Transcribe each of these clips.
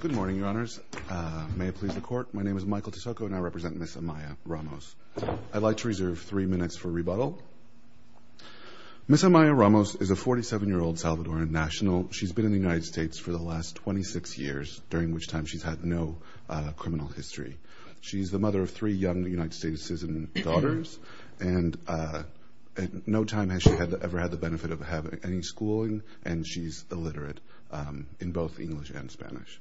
Good morning, Your Honors. May it please the Court, my name is Michael Tisoco, and I represent Ms. Amaya Ramos. I'd like to reserve three minutes for rebuttal. Ms. Amaya Ramos is a 47-year-old Salvadoran national. She's been in the United States for the last 26 years, during which time she's had no criminal history. She's the mother of three young United States citizen daughters, and at no time has she ever had the benefit of having any schooling, and she's illiterate in both English and Spanish.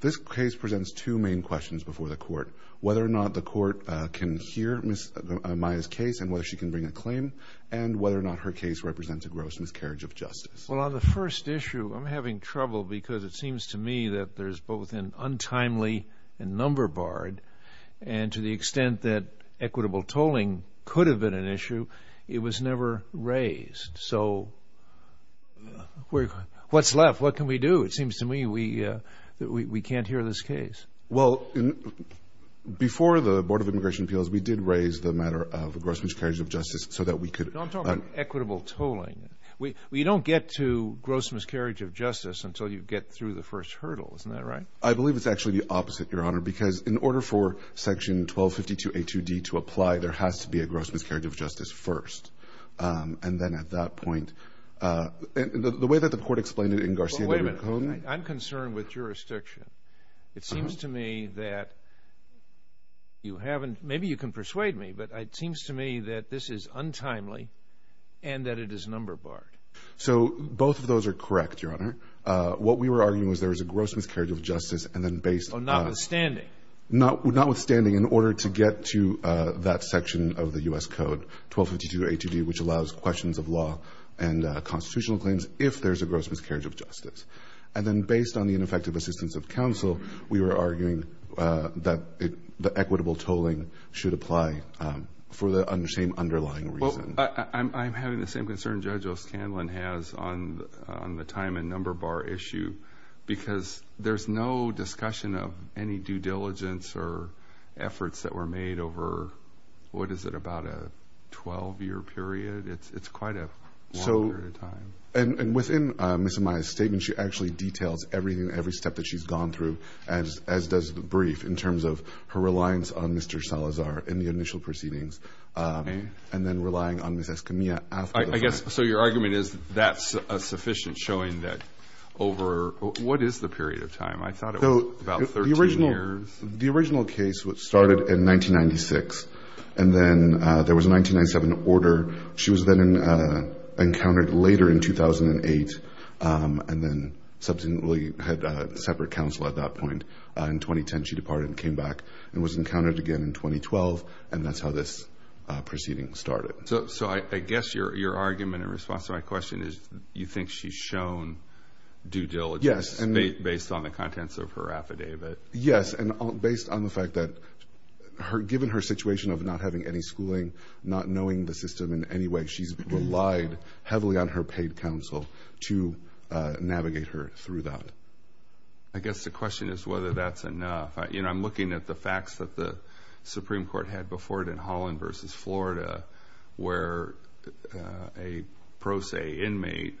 This case presents two main questions before the Court, whether or not the Court can hear Ms. Amaya's case and whether she can bring a claim, and whether or not her case represents a gross miscarriage of justice. Well, on the first issue, I'm having trouble because it seems to me that there's both an untimely and number barred, and to the extent that equitable tolling could have been an equitable tolling, so what's left? What can we do? It seems to me that we can't hear this case. Well, before the Board of Immigration Appeals, we did raise the matter of a gross miscarriage of justice so that we could... Don't talk about equitable tolling. We don't get to gross miscarriage of justice until you get through the first hurdle, isn't that right? I believe it's actually the opposite, Your Honor, because in order for Section 1252A2D to apply, there has to be a gross miscarriage of justice first, and then at that point... The way that the Court explained it in Garcia de Recon... Wait a minute. I'm concerned with jurisdiction. It seems to me that you haven't... Maybe you can persuade me, but it seems to me that this is untimely and that it is number barred. So both of those are correct, Your Honor. What we were arguing was there is a gross miscarriage of justice, and then based on... Notwithstanding. Notwithstanding, in order to get to that section of the U.S. Code, 1252A2D, which allows questions of law and constitutional claims, if there's a gross miscarriage of justice. And then based on the ineffective assistance of counsel, we were arguing that equitable tolling should apply for the same underlying reason. Well, I'm having the same concern Judge O'Scanlan has on the time and number bar issue because there's no discussion of any due diligence or efforts that were made over, what is it, about a 12-year period? It's quite a long period of time. And within Ms. Amaya's statement, she actually details everything, every step that she's gone through, as does the brief, in terms of her reliance on Mr. Salazar in the initial proceedings and then relying on Ms. Escamilla after the fact. So your argument is that's a sufficient showing that over... What is the period of time? I thought it was about 13 years. The original case started in 1996, and then there was a 1997 order. She was then encountered later in 2008, and then subsequently had separate counsel at that point. In 2010, she departed and came back and was encountered again in 2012, and that's how this proceeding started. So I guess your argument in response to my question is you think she's shown due diligence based on the contents of her affidavit. Yes, and based on the fact that given her situation of not having any schooling, not knowing the system in any way, she's relied heavily on her paid counsel to navigate her through that. I guess the question is whether that's enough. I'm looking at the facts that the Supreme Court had before it in Holland v. Florida, where a pro se inmate,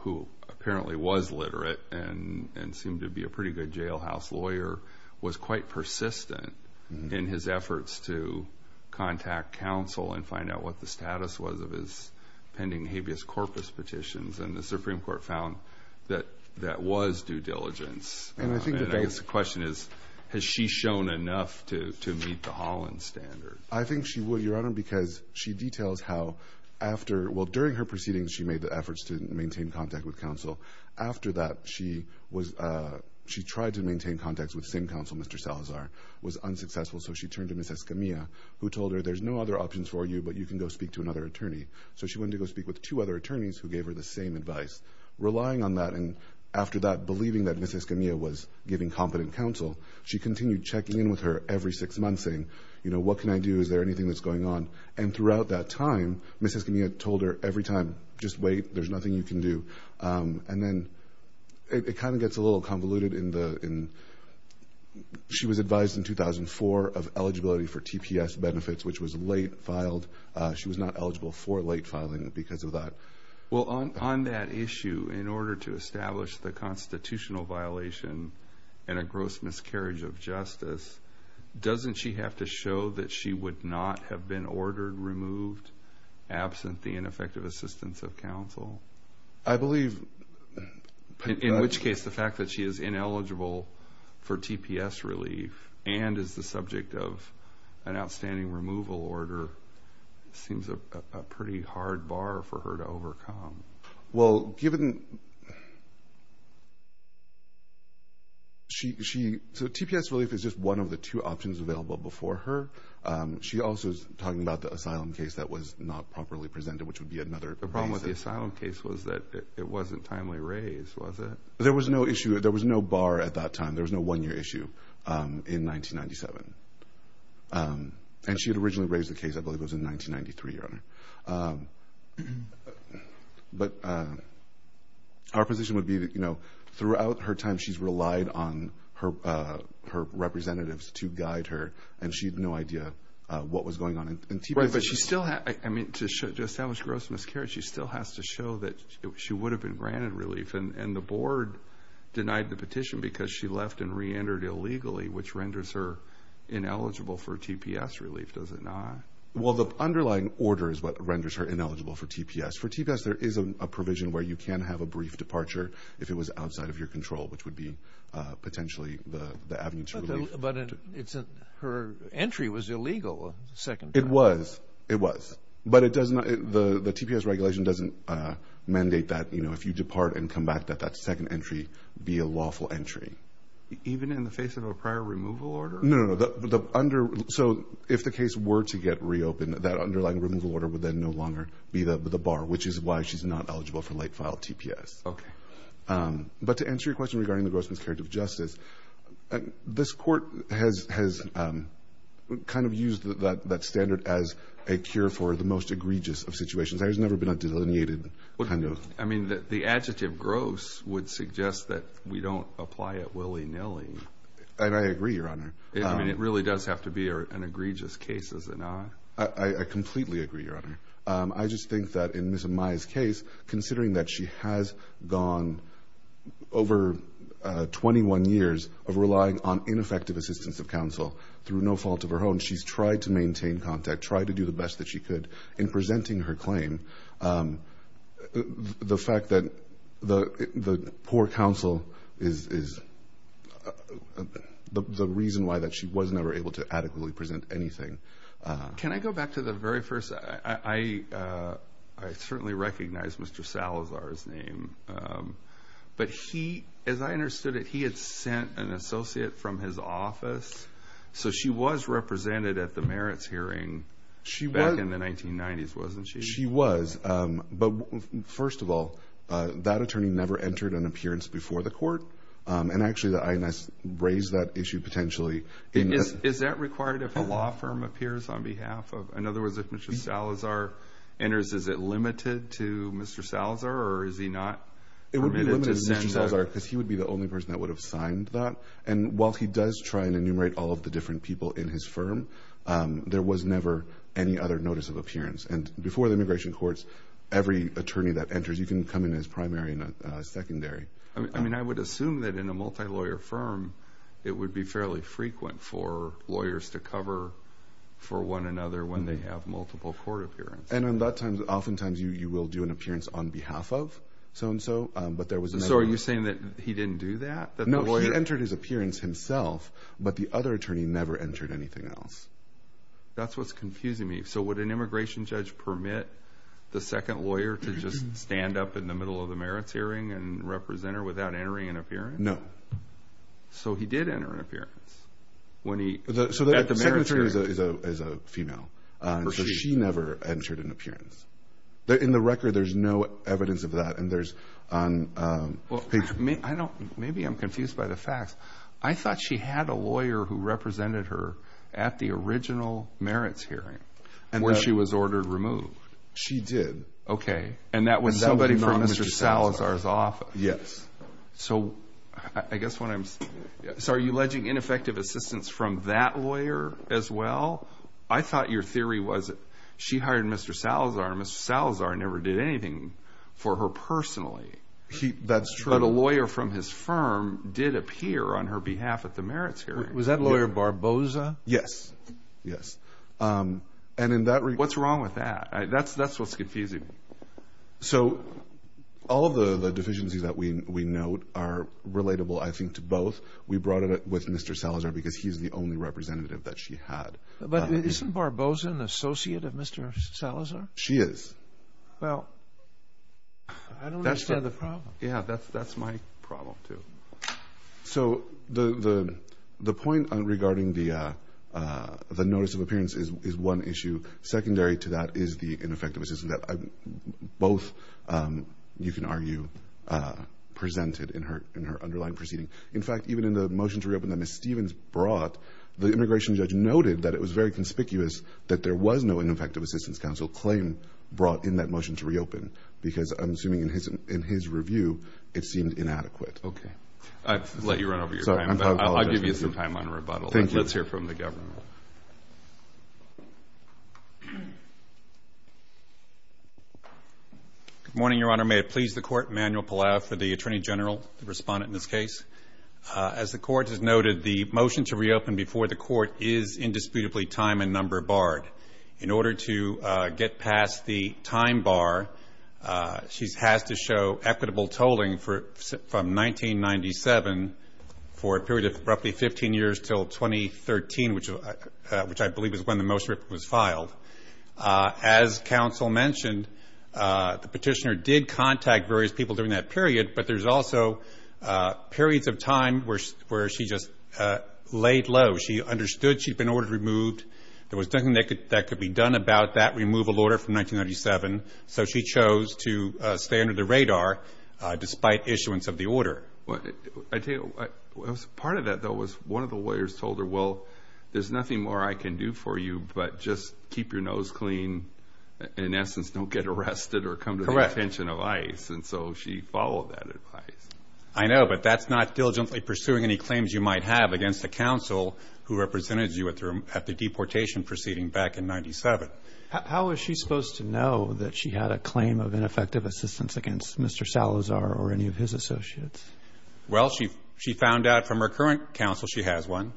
who apparently was literate and seemed to be a pretty good jailhouse lawyer, was quite persistent in his efforts to contact counsel and find out what the status was of his pending habeas corpus petitions, and the Supreme Court found that that was due diligence. And I think the basic question is, has she shown enough to meet the Holland standard? I think she would, Your Honor, because she details how after, well, during her proceedings she made the efforts to maintain contact with counsel. After that, she tried to maintain contact with the same counsel, Mr. Salazar, was unsuccessful, so she turned to Ms. Escamilla, who told her there's no other options for you, but you can go speak to another attorney. So she went to go speak with two other attorneys who gave her the same advice. Relying on that, and after that, believing that Ms. Escamilla was giving competent counsel, she continued checking in with her every six months, saying, you know, what can I do? Is there anything that's going on? And throughout that time, Ms. Escamilla told her every time, just wait, there's nothing you can do. And then it kind of gets a little convoluted in the, she was advised in 2004 of eligibility for TPS benefits, which was late filed. She was not eligible for late filing because of that. Well, on that issue, in order to establish the constitutional violation and a gross miscarriage of justice, doesn't she have to show that she would not have been ordered removed absent the ineffective assistance of counsel? I believe... In which case, the fact that she is ineligible for TPS relief and is the subject of an outstanding removal order seems a pretty hard bar for her to overcome. Well, given, she, so TPS relief is just one of the two options available before her. She also is talking about the asylum case that was not properly presented, which would be another... The problem with the asylum case was that it wasn't timely raised, was it? There was no issue. There was no bar at that time. There was no one-year issue in 1997. And she had originally raised the case, I believe it was in 1993, Your Honor. But our position would be that throughout her time, she's relied on her representatives to guide her, and she had no idea what was going on in TPS. Right, but she still had... I mean, to establish gross miscarriage, she still has to show that she would have been granted relief. And the board denied the petition because she left and re-entered illegally, which renders her ineligible for TPS relief, does it not? Well, the underlying order is what renders her ineligible for TPS. For TPS, there is a provision where you can have a brief departure if it was outside of your control, which would be potentially the avenue to relief. But her entry was illegal a second time. It was. It was. But it does not... The TPS regulation doesn't mandate that if you depart and come back, that that second entry be a lawful entry. Even in the face of a prior removal order? No, no, no. So if the case were to get reopened, that underlying removal order would then no longer be the bar, which is why she's not eligible for late-filed TPS. Okay. But to answer your question regarding the gross miscarriage of justice, this Court has kind of used that standard as a cure for the most egregious of situations. That has never been a delineated kind of... Willy-nilly. And I agree, Your Honor. I mean, it really does have to be an egregious case, doesn't it? I completely agree, Your Honor. I just think that in Ms. Amaya's case, considering that she has gone over 21 years of relying on ineffective assistance of counsel through no fault of her own, she's tried to maintain contact, tried to do the best that she could in presenting her claim. And the fact that the poor counsel is the reason why that she was never able to adequately present anything. Can I go back to the very first... I certainly recognize Mr. Salazar's name, but he, as I understood it, he had sent an associate from his office. So she was represented at the merits hearing back in the 1990s, wasn't she? She was. But first of all, that attorney never entered an appearance before the court. And actually, the INS raised that issue potentially... Is that required if a law firm appears on behalf of... In other words, if Mr. Salazar enters, is it limited to Mr. Salazar or is he not permitted to send... It would be limited to Mr. Salazar because he would be the only person that would have signed that. And while he does try and enumerate all of the different people in his firm, there was never any other notice of appearance. And before the immigration courts, every attorney that enters, you can come in as primary and secondary. I mean, I would assume that in a multi-lawyer firm, it would be fairly frequent for lawyers to cover for one another when they have multiple court appearances. And on that time, oftentimes, you will do an appearance on behalf of so-and-so, but there was no... So are you saying that he didn't do that? No, he entered his appearance himself, but the other attorney never entered anything else. That's what's confusing me. So would an immigration judge permit the second lawyer to just stand up in the middle of the merits hearing and represent her without entering an appearance? No. So he did enter an appearance when he... So the secretary is a female, so she never entered an appearance. In the record, there's no evidence of that and there's... Maybe I'm confused by the facts. I thought she had a lawyer who represented her at the original merits hearing when she was ordered removed. She did. Okay. And that was somebody from Mr. Salazar's office. So are you alleging ineffective assistance from that lawyer as well? I thought your theory was that she hired Mr. Salazar and Mr. Salazar never did anything for her personally. That's true. But a lawyer from his firm did appear on her behalf at the merits hearing. Was that lawyer Barboza? Yes. Yes. And in that... What's wrong with that? That's what's confusing me. So all of the deficiencies that we note are relatable, I think, to both. We brought it up with Mr. Salazar because he's the only representative that she had. But isn't Barboza an associate of Mr. Salazar? She is. Well, I don't understand the problem. Yeah, that's my problem, too. So the point regarding the notice of appearance is one issue. Secondary to that is the ineffective assistance that both, you can argue, presented in her underlying proceeding. In fact, even in the motion to reopen that Ms. Stevens brought, the immigration judge noted that it was very conspicuous that there was no ineffective assistance counsel claim brought in that motion to reopen because, I'm assuming, in his review, it seemed inadequate. Okay. I've let you run over your time. I'm sorry. I apologize. I'll give you some time on rebuttal. Thank you. Let's hear from the government. Good morning, Your Honor. May it please the Court, Manuel Palau, for the Attorney General, the respondent in this case. As the Court has noted, the motion to reopen before the Court is indisputably time and number barred. In order to get past the time bar, she has to show equitable tolling from 1997 for a period of roughly 15 years until 2013, which I believe is when the motion was filed. As counsel mentioned, the petitioner did contact various people during that period, but there's also periods of time where she just laid low. She understood she'd been ordered removed. There was nothing that could be done about that removal order from 1997, so she chose to stay under the radar despite issuance of the order. I tell you, part of that, though, was one of the lawyers told her, well, there's nothing more I can do for you, but just keep your nose clean. In essence, don't get arrested or come to the attention of ICE. Correct. So she followed that advice. I know, but that's not diligently pursuing any claims you might have against a counsel who represented you at the deportation proceeding back in 1997. How was she supposed to know that she had a claim of ineffective assistance against Mr. Salazar or any of his associates? Well, she found out from her current counsel she has one.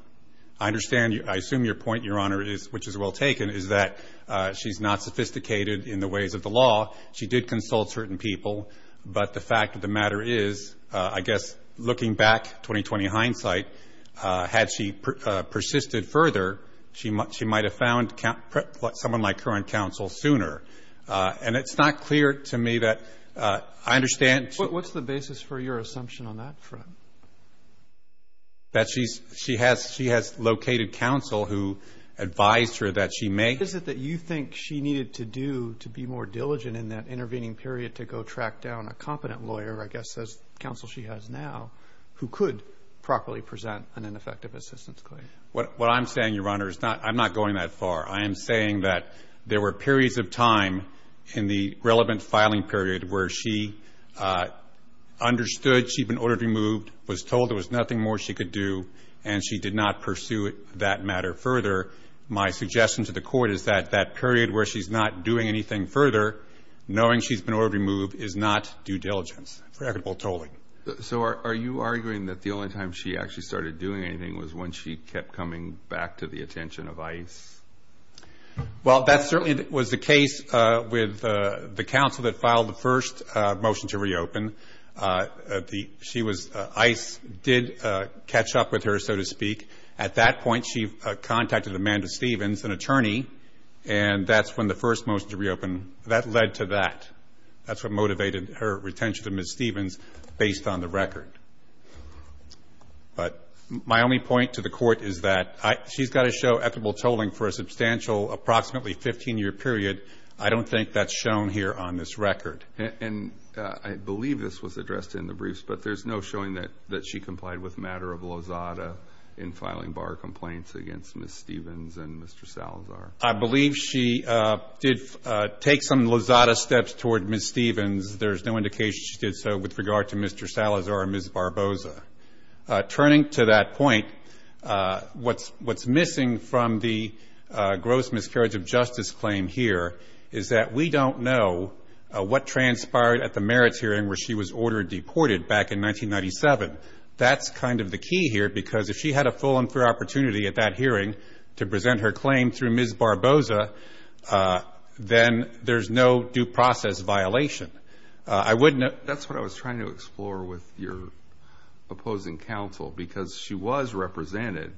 I understand, I assume your point, Your Honor, which is well taken, is that she's not sophisticated in the ways of the law. She did consult certain people, but the fact of the matter is, I guess, looking back, 20-20 years in hindsight, had she persisted further, she might have found someone like her on counsel sooner. And it's not clear to me that I understand. What's the basis for your assumption on that front? That she has located counsel who advised her that she may. Is it that you think she needed to do to be more diligent in that intervening period to go track down a competent lawyer, I guess, as counsel she has now, who could properly present an ineffective assistance claim? What I'm saying, Your Honor, is I'm not going that far. I am saying that there were periods of time in the relevant filing period where she understood she'd been ordered removed, was told there was nothing more she could do, and she did not pursue that matter further. My suggestion to the Court is that that period where she's not doing anything further, knowing she's been ordered removed, is not due diligence for equitable tolling. So are you arguing that the only time she actually started doing anything was when she kept coming back to the attention of ICE? Well, that certainly was the case with the counsel that filed the first motion to reopen. She was, ICE did catch up with her, so to speak. At that point, she contacted Amanda Stevens, an attorney, and that's when the first motion to reopen, that led to that. That's what motivated her retention of Ms. Stevens, based on the record. But my only point to the Court is that she's got to show equitable tolling for a substantial, approximately 15-year period. I don't think that's shown here on this record. And I believe this was addressed in the briefs, but there's no showing that she complied with matter of lozada in filing bar complaints against Ms. Stevens and Mr. Salazar. I believe she did take some lozada steps toward Ms. Stevens. There's no indication she did so with regard to Mr. Salazar or Ms. Barbosa. Turning to that point, what's missing from the gross miscarriage of justice claim here is that we don't know what transpired at the merits hearing where she was ordered deported back in 1997. That's kind of the key here, because if she had a full and fair opportunity at that hearing to present her claim through Ms. Barbosa, then there's no due process violation. I wouldn't have... That's what I was trying to explore with your opposing counsel, because she was represented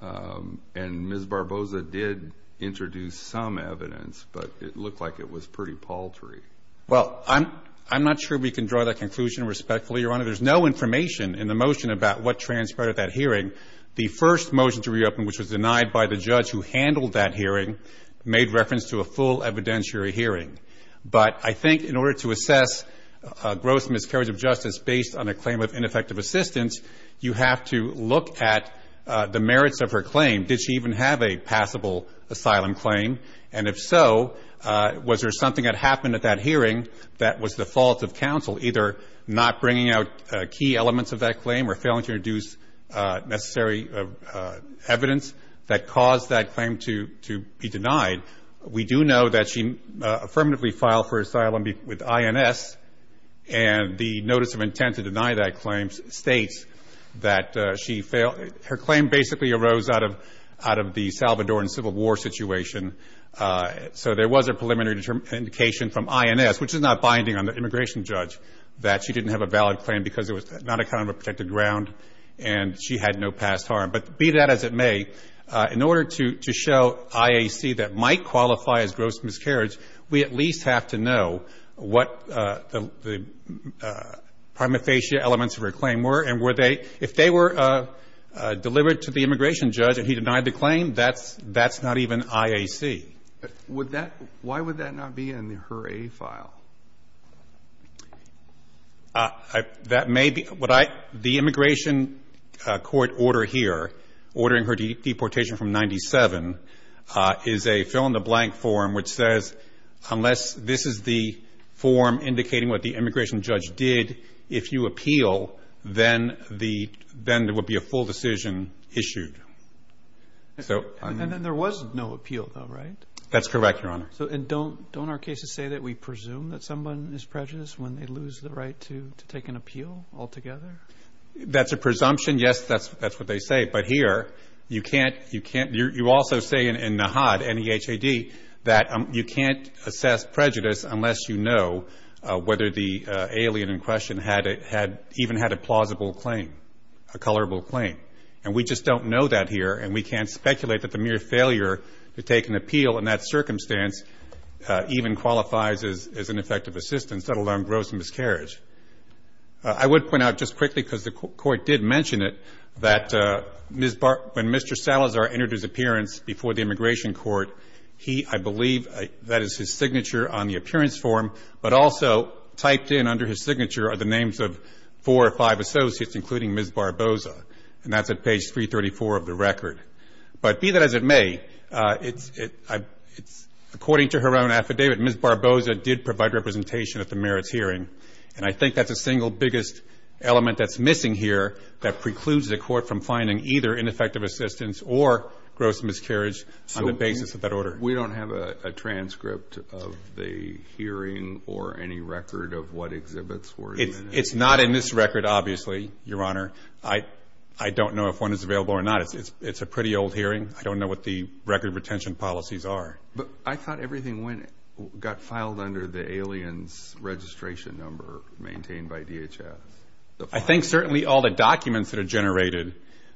and Ms. Barbosa did introduce some evidence, but it looked like it was pretty paltry. Well, I'm not sure we can draw that conclusion respectfully, Your Honor. There's no information in the motion about what transpired at that hearing. The first motion to reopen, which was denied by the judge who handled that hearing, made reference to a full evidentiary hearing. But I think in order to assess gross miscarriage of justice based on a claim of ineffective assistance, you have to look at the merits of her claim. Did she even have a passable asylum claim? And if so, was there something that happened at that hearing that was the fault of counsel, either not bringing out key elements of that claim or failing to introduce necessary evidence that caused that claim to be denied? We do know that she affirmatively filed for asylum with INS, and the notice of intent to deny that claim states that she failed... Her claim basically arose out of the Salvadoran Civil War situation. So there was a preliminary indication from INS, which is not binding on the immigration judge, that she didn't have a valid claim because it was not a kind of a protected ground and she had no past harm. But be that as it may, in order to show IAC that might qualify as gross miscarriage, we at least have to know what the prima facie elements of her claim were. And were they... If they were delivered to the immigration judge and he denied the claim, that's not even IAC. Why would that not be in her A file? That may be. The immigration court order here, ordering her deportation from 97, is a fill-in-the-blank form which says, unless this is the form indicating what the immigration judge did, if you appeal, then there would be a full decision issued. And then there was no appeal though, right? That's correct, Your Honor. So don't our cases say that we presume that someone is prejudiced when they lose the right to take an appeal altogether? That's a presumption. Yes, that's what they say. But here, you can't... You also say in NAHAD, N-E-H-A-D, that you can't assess prejudice unless you know whether the alien in question even had a plausible claim, a colorable claim. And we just don't know that here and we can't speculate that the mere failure to take an appeal in that circumstance even qualifies as an effective assistance, let alone gross miscarriage. I would point out just quickly, because the Court did mention it, that when Mr. Salazar entered his appearance before the immigration court, he, I believe, that is his signature on the appearance form, but also typed in under his signature are the names of four or five associates, including Ms. Barboza. And that's at page 334 of the record. But be that as it may, according to her own affidavit, Ms. Barboza did provide representation at the merits hearing. And I think that's the single biggest element that's missing here that precludes the Court from finding either ineffective assistance or gross miscarriage on the basis of that order. So we don't have a transcript of the hearing or any record of what exhibits were in it? It's not in this record, obviously, Your Honor. I don't know if one is available or not. It's a pretty old hearing. I don't know what the record retention policies are. But I thought everything got filed under the alien's registration number maintained by DHS. I think certainly all the documents that are generated,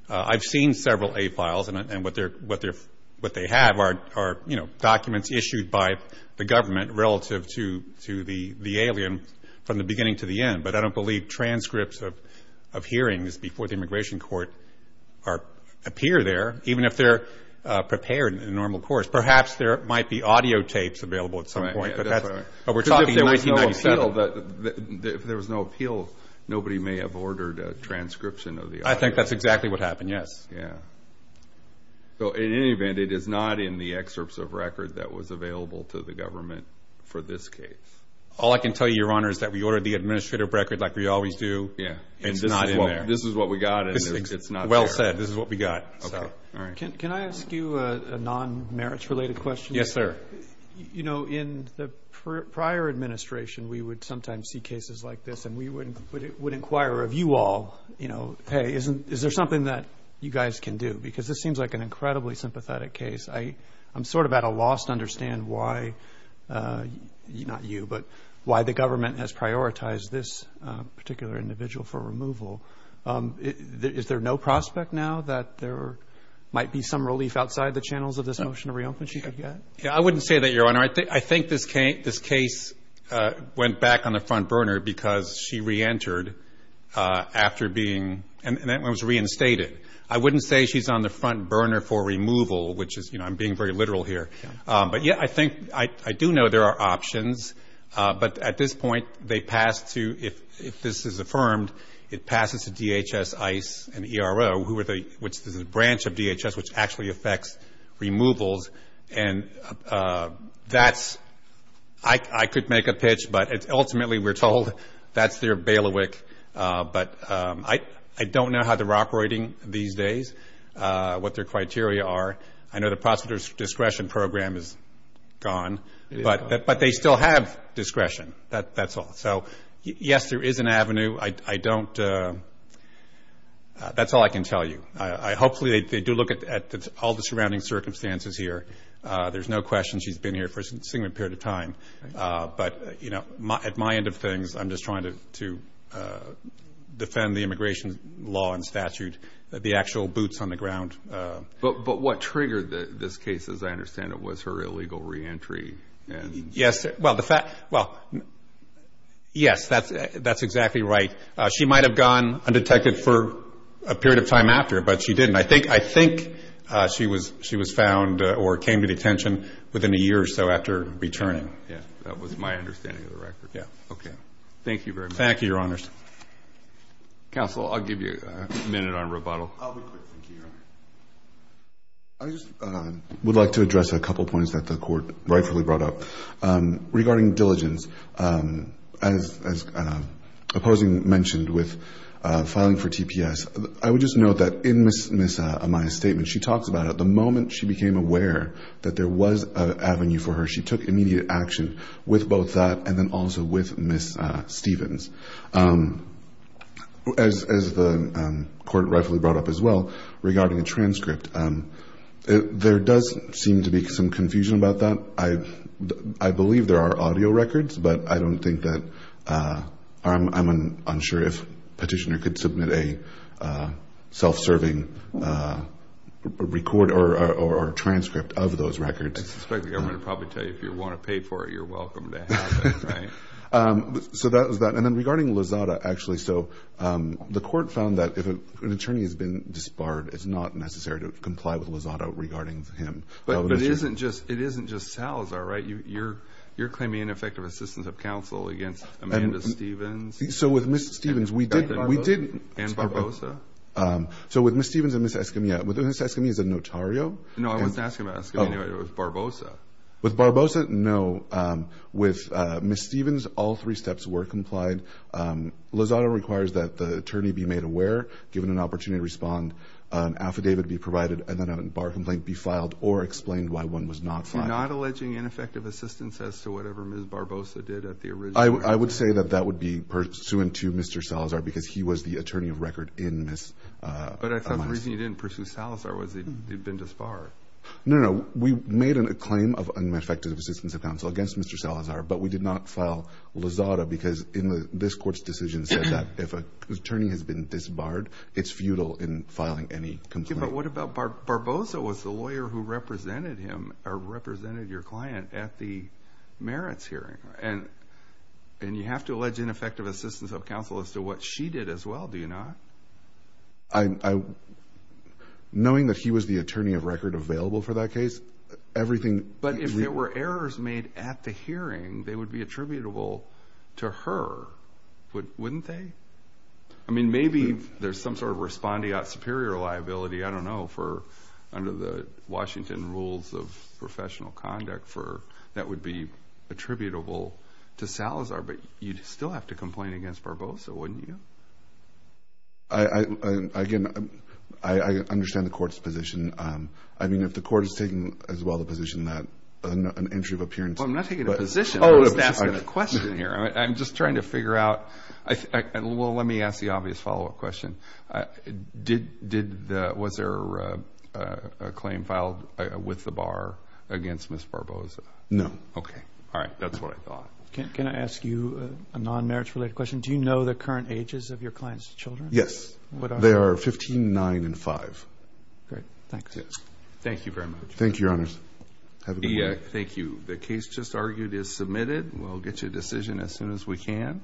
I've seen several A-files, and what they have are documents issued by the government relative to the alien from the beginning to the end. But I don't believe transcripts of hearings before the immigration court appear there, even if they're prepared in a normal course. Perhaps there might be audio tapes available at some point. But we're talking 1997. Because if there was no appeal, nobody may have ordered a transcription of the audio. I think that's exactly what happened, yes. Yeah. So in any event, it is not in the excerpts of record that was available to the government for this case? All I can tell you, Your Honor, is that we ordered the administrative record like we always do. Yeah. It's not in there. This is what we got, and it's not there. Well said. This is what we got. Okay. All right. Can I ask you a non-merits-related question? Yes, sir. You know, in the prior administration, we would sometimes see cases like this, and we would inquire of you all, you know, hey, is there something that you guys can do? Because this seems like an incredibly sympathetic case. I'm sort of at a loss to understand why, not you, but why the government has prioritized this particular individual for removal. Is there no prospect now that there might be some relief outside the channels of this motion of re-opening she could get? Yeah. I wouldn't say that, Your Honor. I think this case went back on the front burner because she re-entered after being reinstated. I wouldn't say she's on the front burner for removal, which is, you know, I'm being very literal here. But, yeah, I think, I do know there are options. But at this point, they pass to, if this is affirmed, it passes to DHS, ICE, and ERO, which is a branch of DHS which actually affects removals. And that's, I could make a pitch, but ultimately we're told that's their bailiwick. But I don't know how they're operating these days, what their criteria are. I know the prosecutor's discretion program is gone, but they still have discretion. That's all. So, yes, there is an avenue. I don't, that's all I can tell you. Hopefully they do look at all the surrounding circumstances here. There's no question she's been here for a significant period of time. But, you know, at my end of things, I'm just trying to defend the immigration law and statute, the actual boots on the ground. But what triggered this case, as I understand it, was her illegal reentry. Yes, well, yes, that's exactly right. She might have gone undetected for a period of time after, but she didn't. I think she was found or came to detention within a year or so after returning. Yes, that was my understanding of the record. Yes. Okay. Thank you very much. Thank you, Your Honors. Counsel, I'll give you a minute on rebuttal. I'll be quick. Thank you, Your Honor. I just would like to address a couple points that the Court rightfully brought up. Regarding diligence, as opposing mentioned with filing for TPS, I would just note that in Ms. Amaya's statement, she talks about it. The moment she became aware that there was an avenue for her, she took immediate action with both that and then also with Ms. Stevens. As the Court rightfully brought up as well, regarding a transcript, there does seem to be some confusion about that. I believe there are audio records, but I don't think that – I'm unsure if Petitioner could submit a self-serving record or transcript of those records. I suspect the government would probably tell you if you want to pay for it, you're welcome to have it, right? So that was that. And then regarding Lozada, actually, so the Court found that if an attorney has been disbarred, it's not necessary to comply with Lozada regarding him. But it isn't just Salazar, right? You're claiming ineffective assistance of counsel against Amanda Stevens? So with Ms. Stevens, we did – And Barbosa? And Barbosa? So with Ms. Stevens and Ms. Escamilla. Ms. Escamilla is a notario. No, I wasn't asking about Escamilla. It was Barbosa. With Barbosa, no. With Ms. Stevens, all three steps were complied. Lozada requires that the attorney be made aware, given an opportunity to respond, an affidavit be provided, and then a bar complaint be filed or explained why one was not filed. You're not alleging ineffective assistance as to whatever Ms. Barbosa did at the original – I would say that that would be pursuant to Mr. Salazar because he was the attorney of record in Ms. – But I thought the reason you didn't pursue Salazar was he'd been disbarred. No, no. We made a claim of ineffective assistance of counsel against Mr. Salazar, but we did not file Lozada because this court's decision said that if an attorney has been disbarred, it's futile in filing any complaint. But what about Barbosa was the lawyer who represented him or represented your client at the merits hearing? And you have to allege ineffective assistance of counsel as to what she did as well, do you not? I – knowing that he was the attorney of record available for that case, everything – But if there were errors made at the hearing, they would be attributable to her, wouldn't they? I mean, maybe there's some sort of respondeat superior liability, I don't know, for – under the Washington rules of professional conduct for – that would be attributable to Salazar, but you'd still have to complain against Barbosa, wouldn't you? I – again, I understand the court's position. I mean, if the court is taking as well the position that an entry of appearance – Well, I'm not taking a position. I'm just asking a question here. I'm just trying to figure out – well, let me ask the obvious follow-up question. Did the – was there a claim filed with the bar against Ms. Barbosa? No. Okay. All right. That's what I thought. Can I ask you a non-merits related question? Do you know the current ages of your client's children? Yes. What are they? They are 15, 9, and 5. Great. Thanks. Yes. Thank you very much. Thank you, Your Honors. Have a good morning. Thank you. The case just argued is submitted. We'll get you a decision as soon as we can.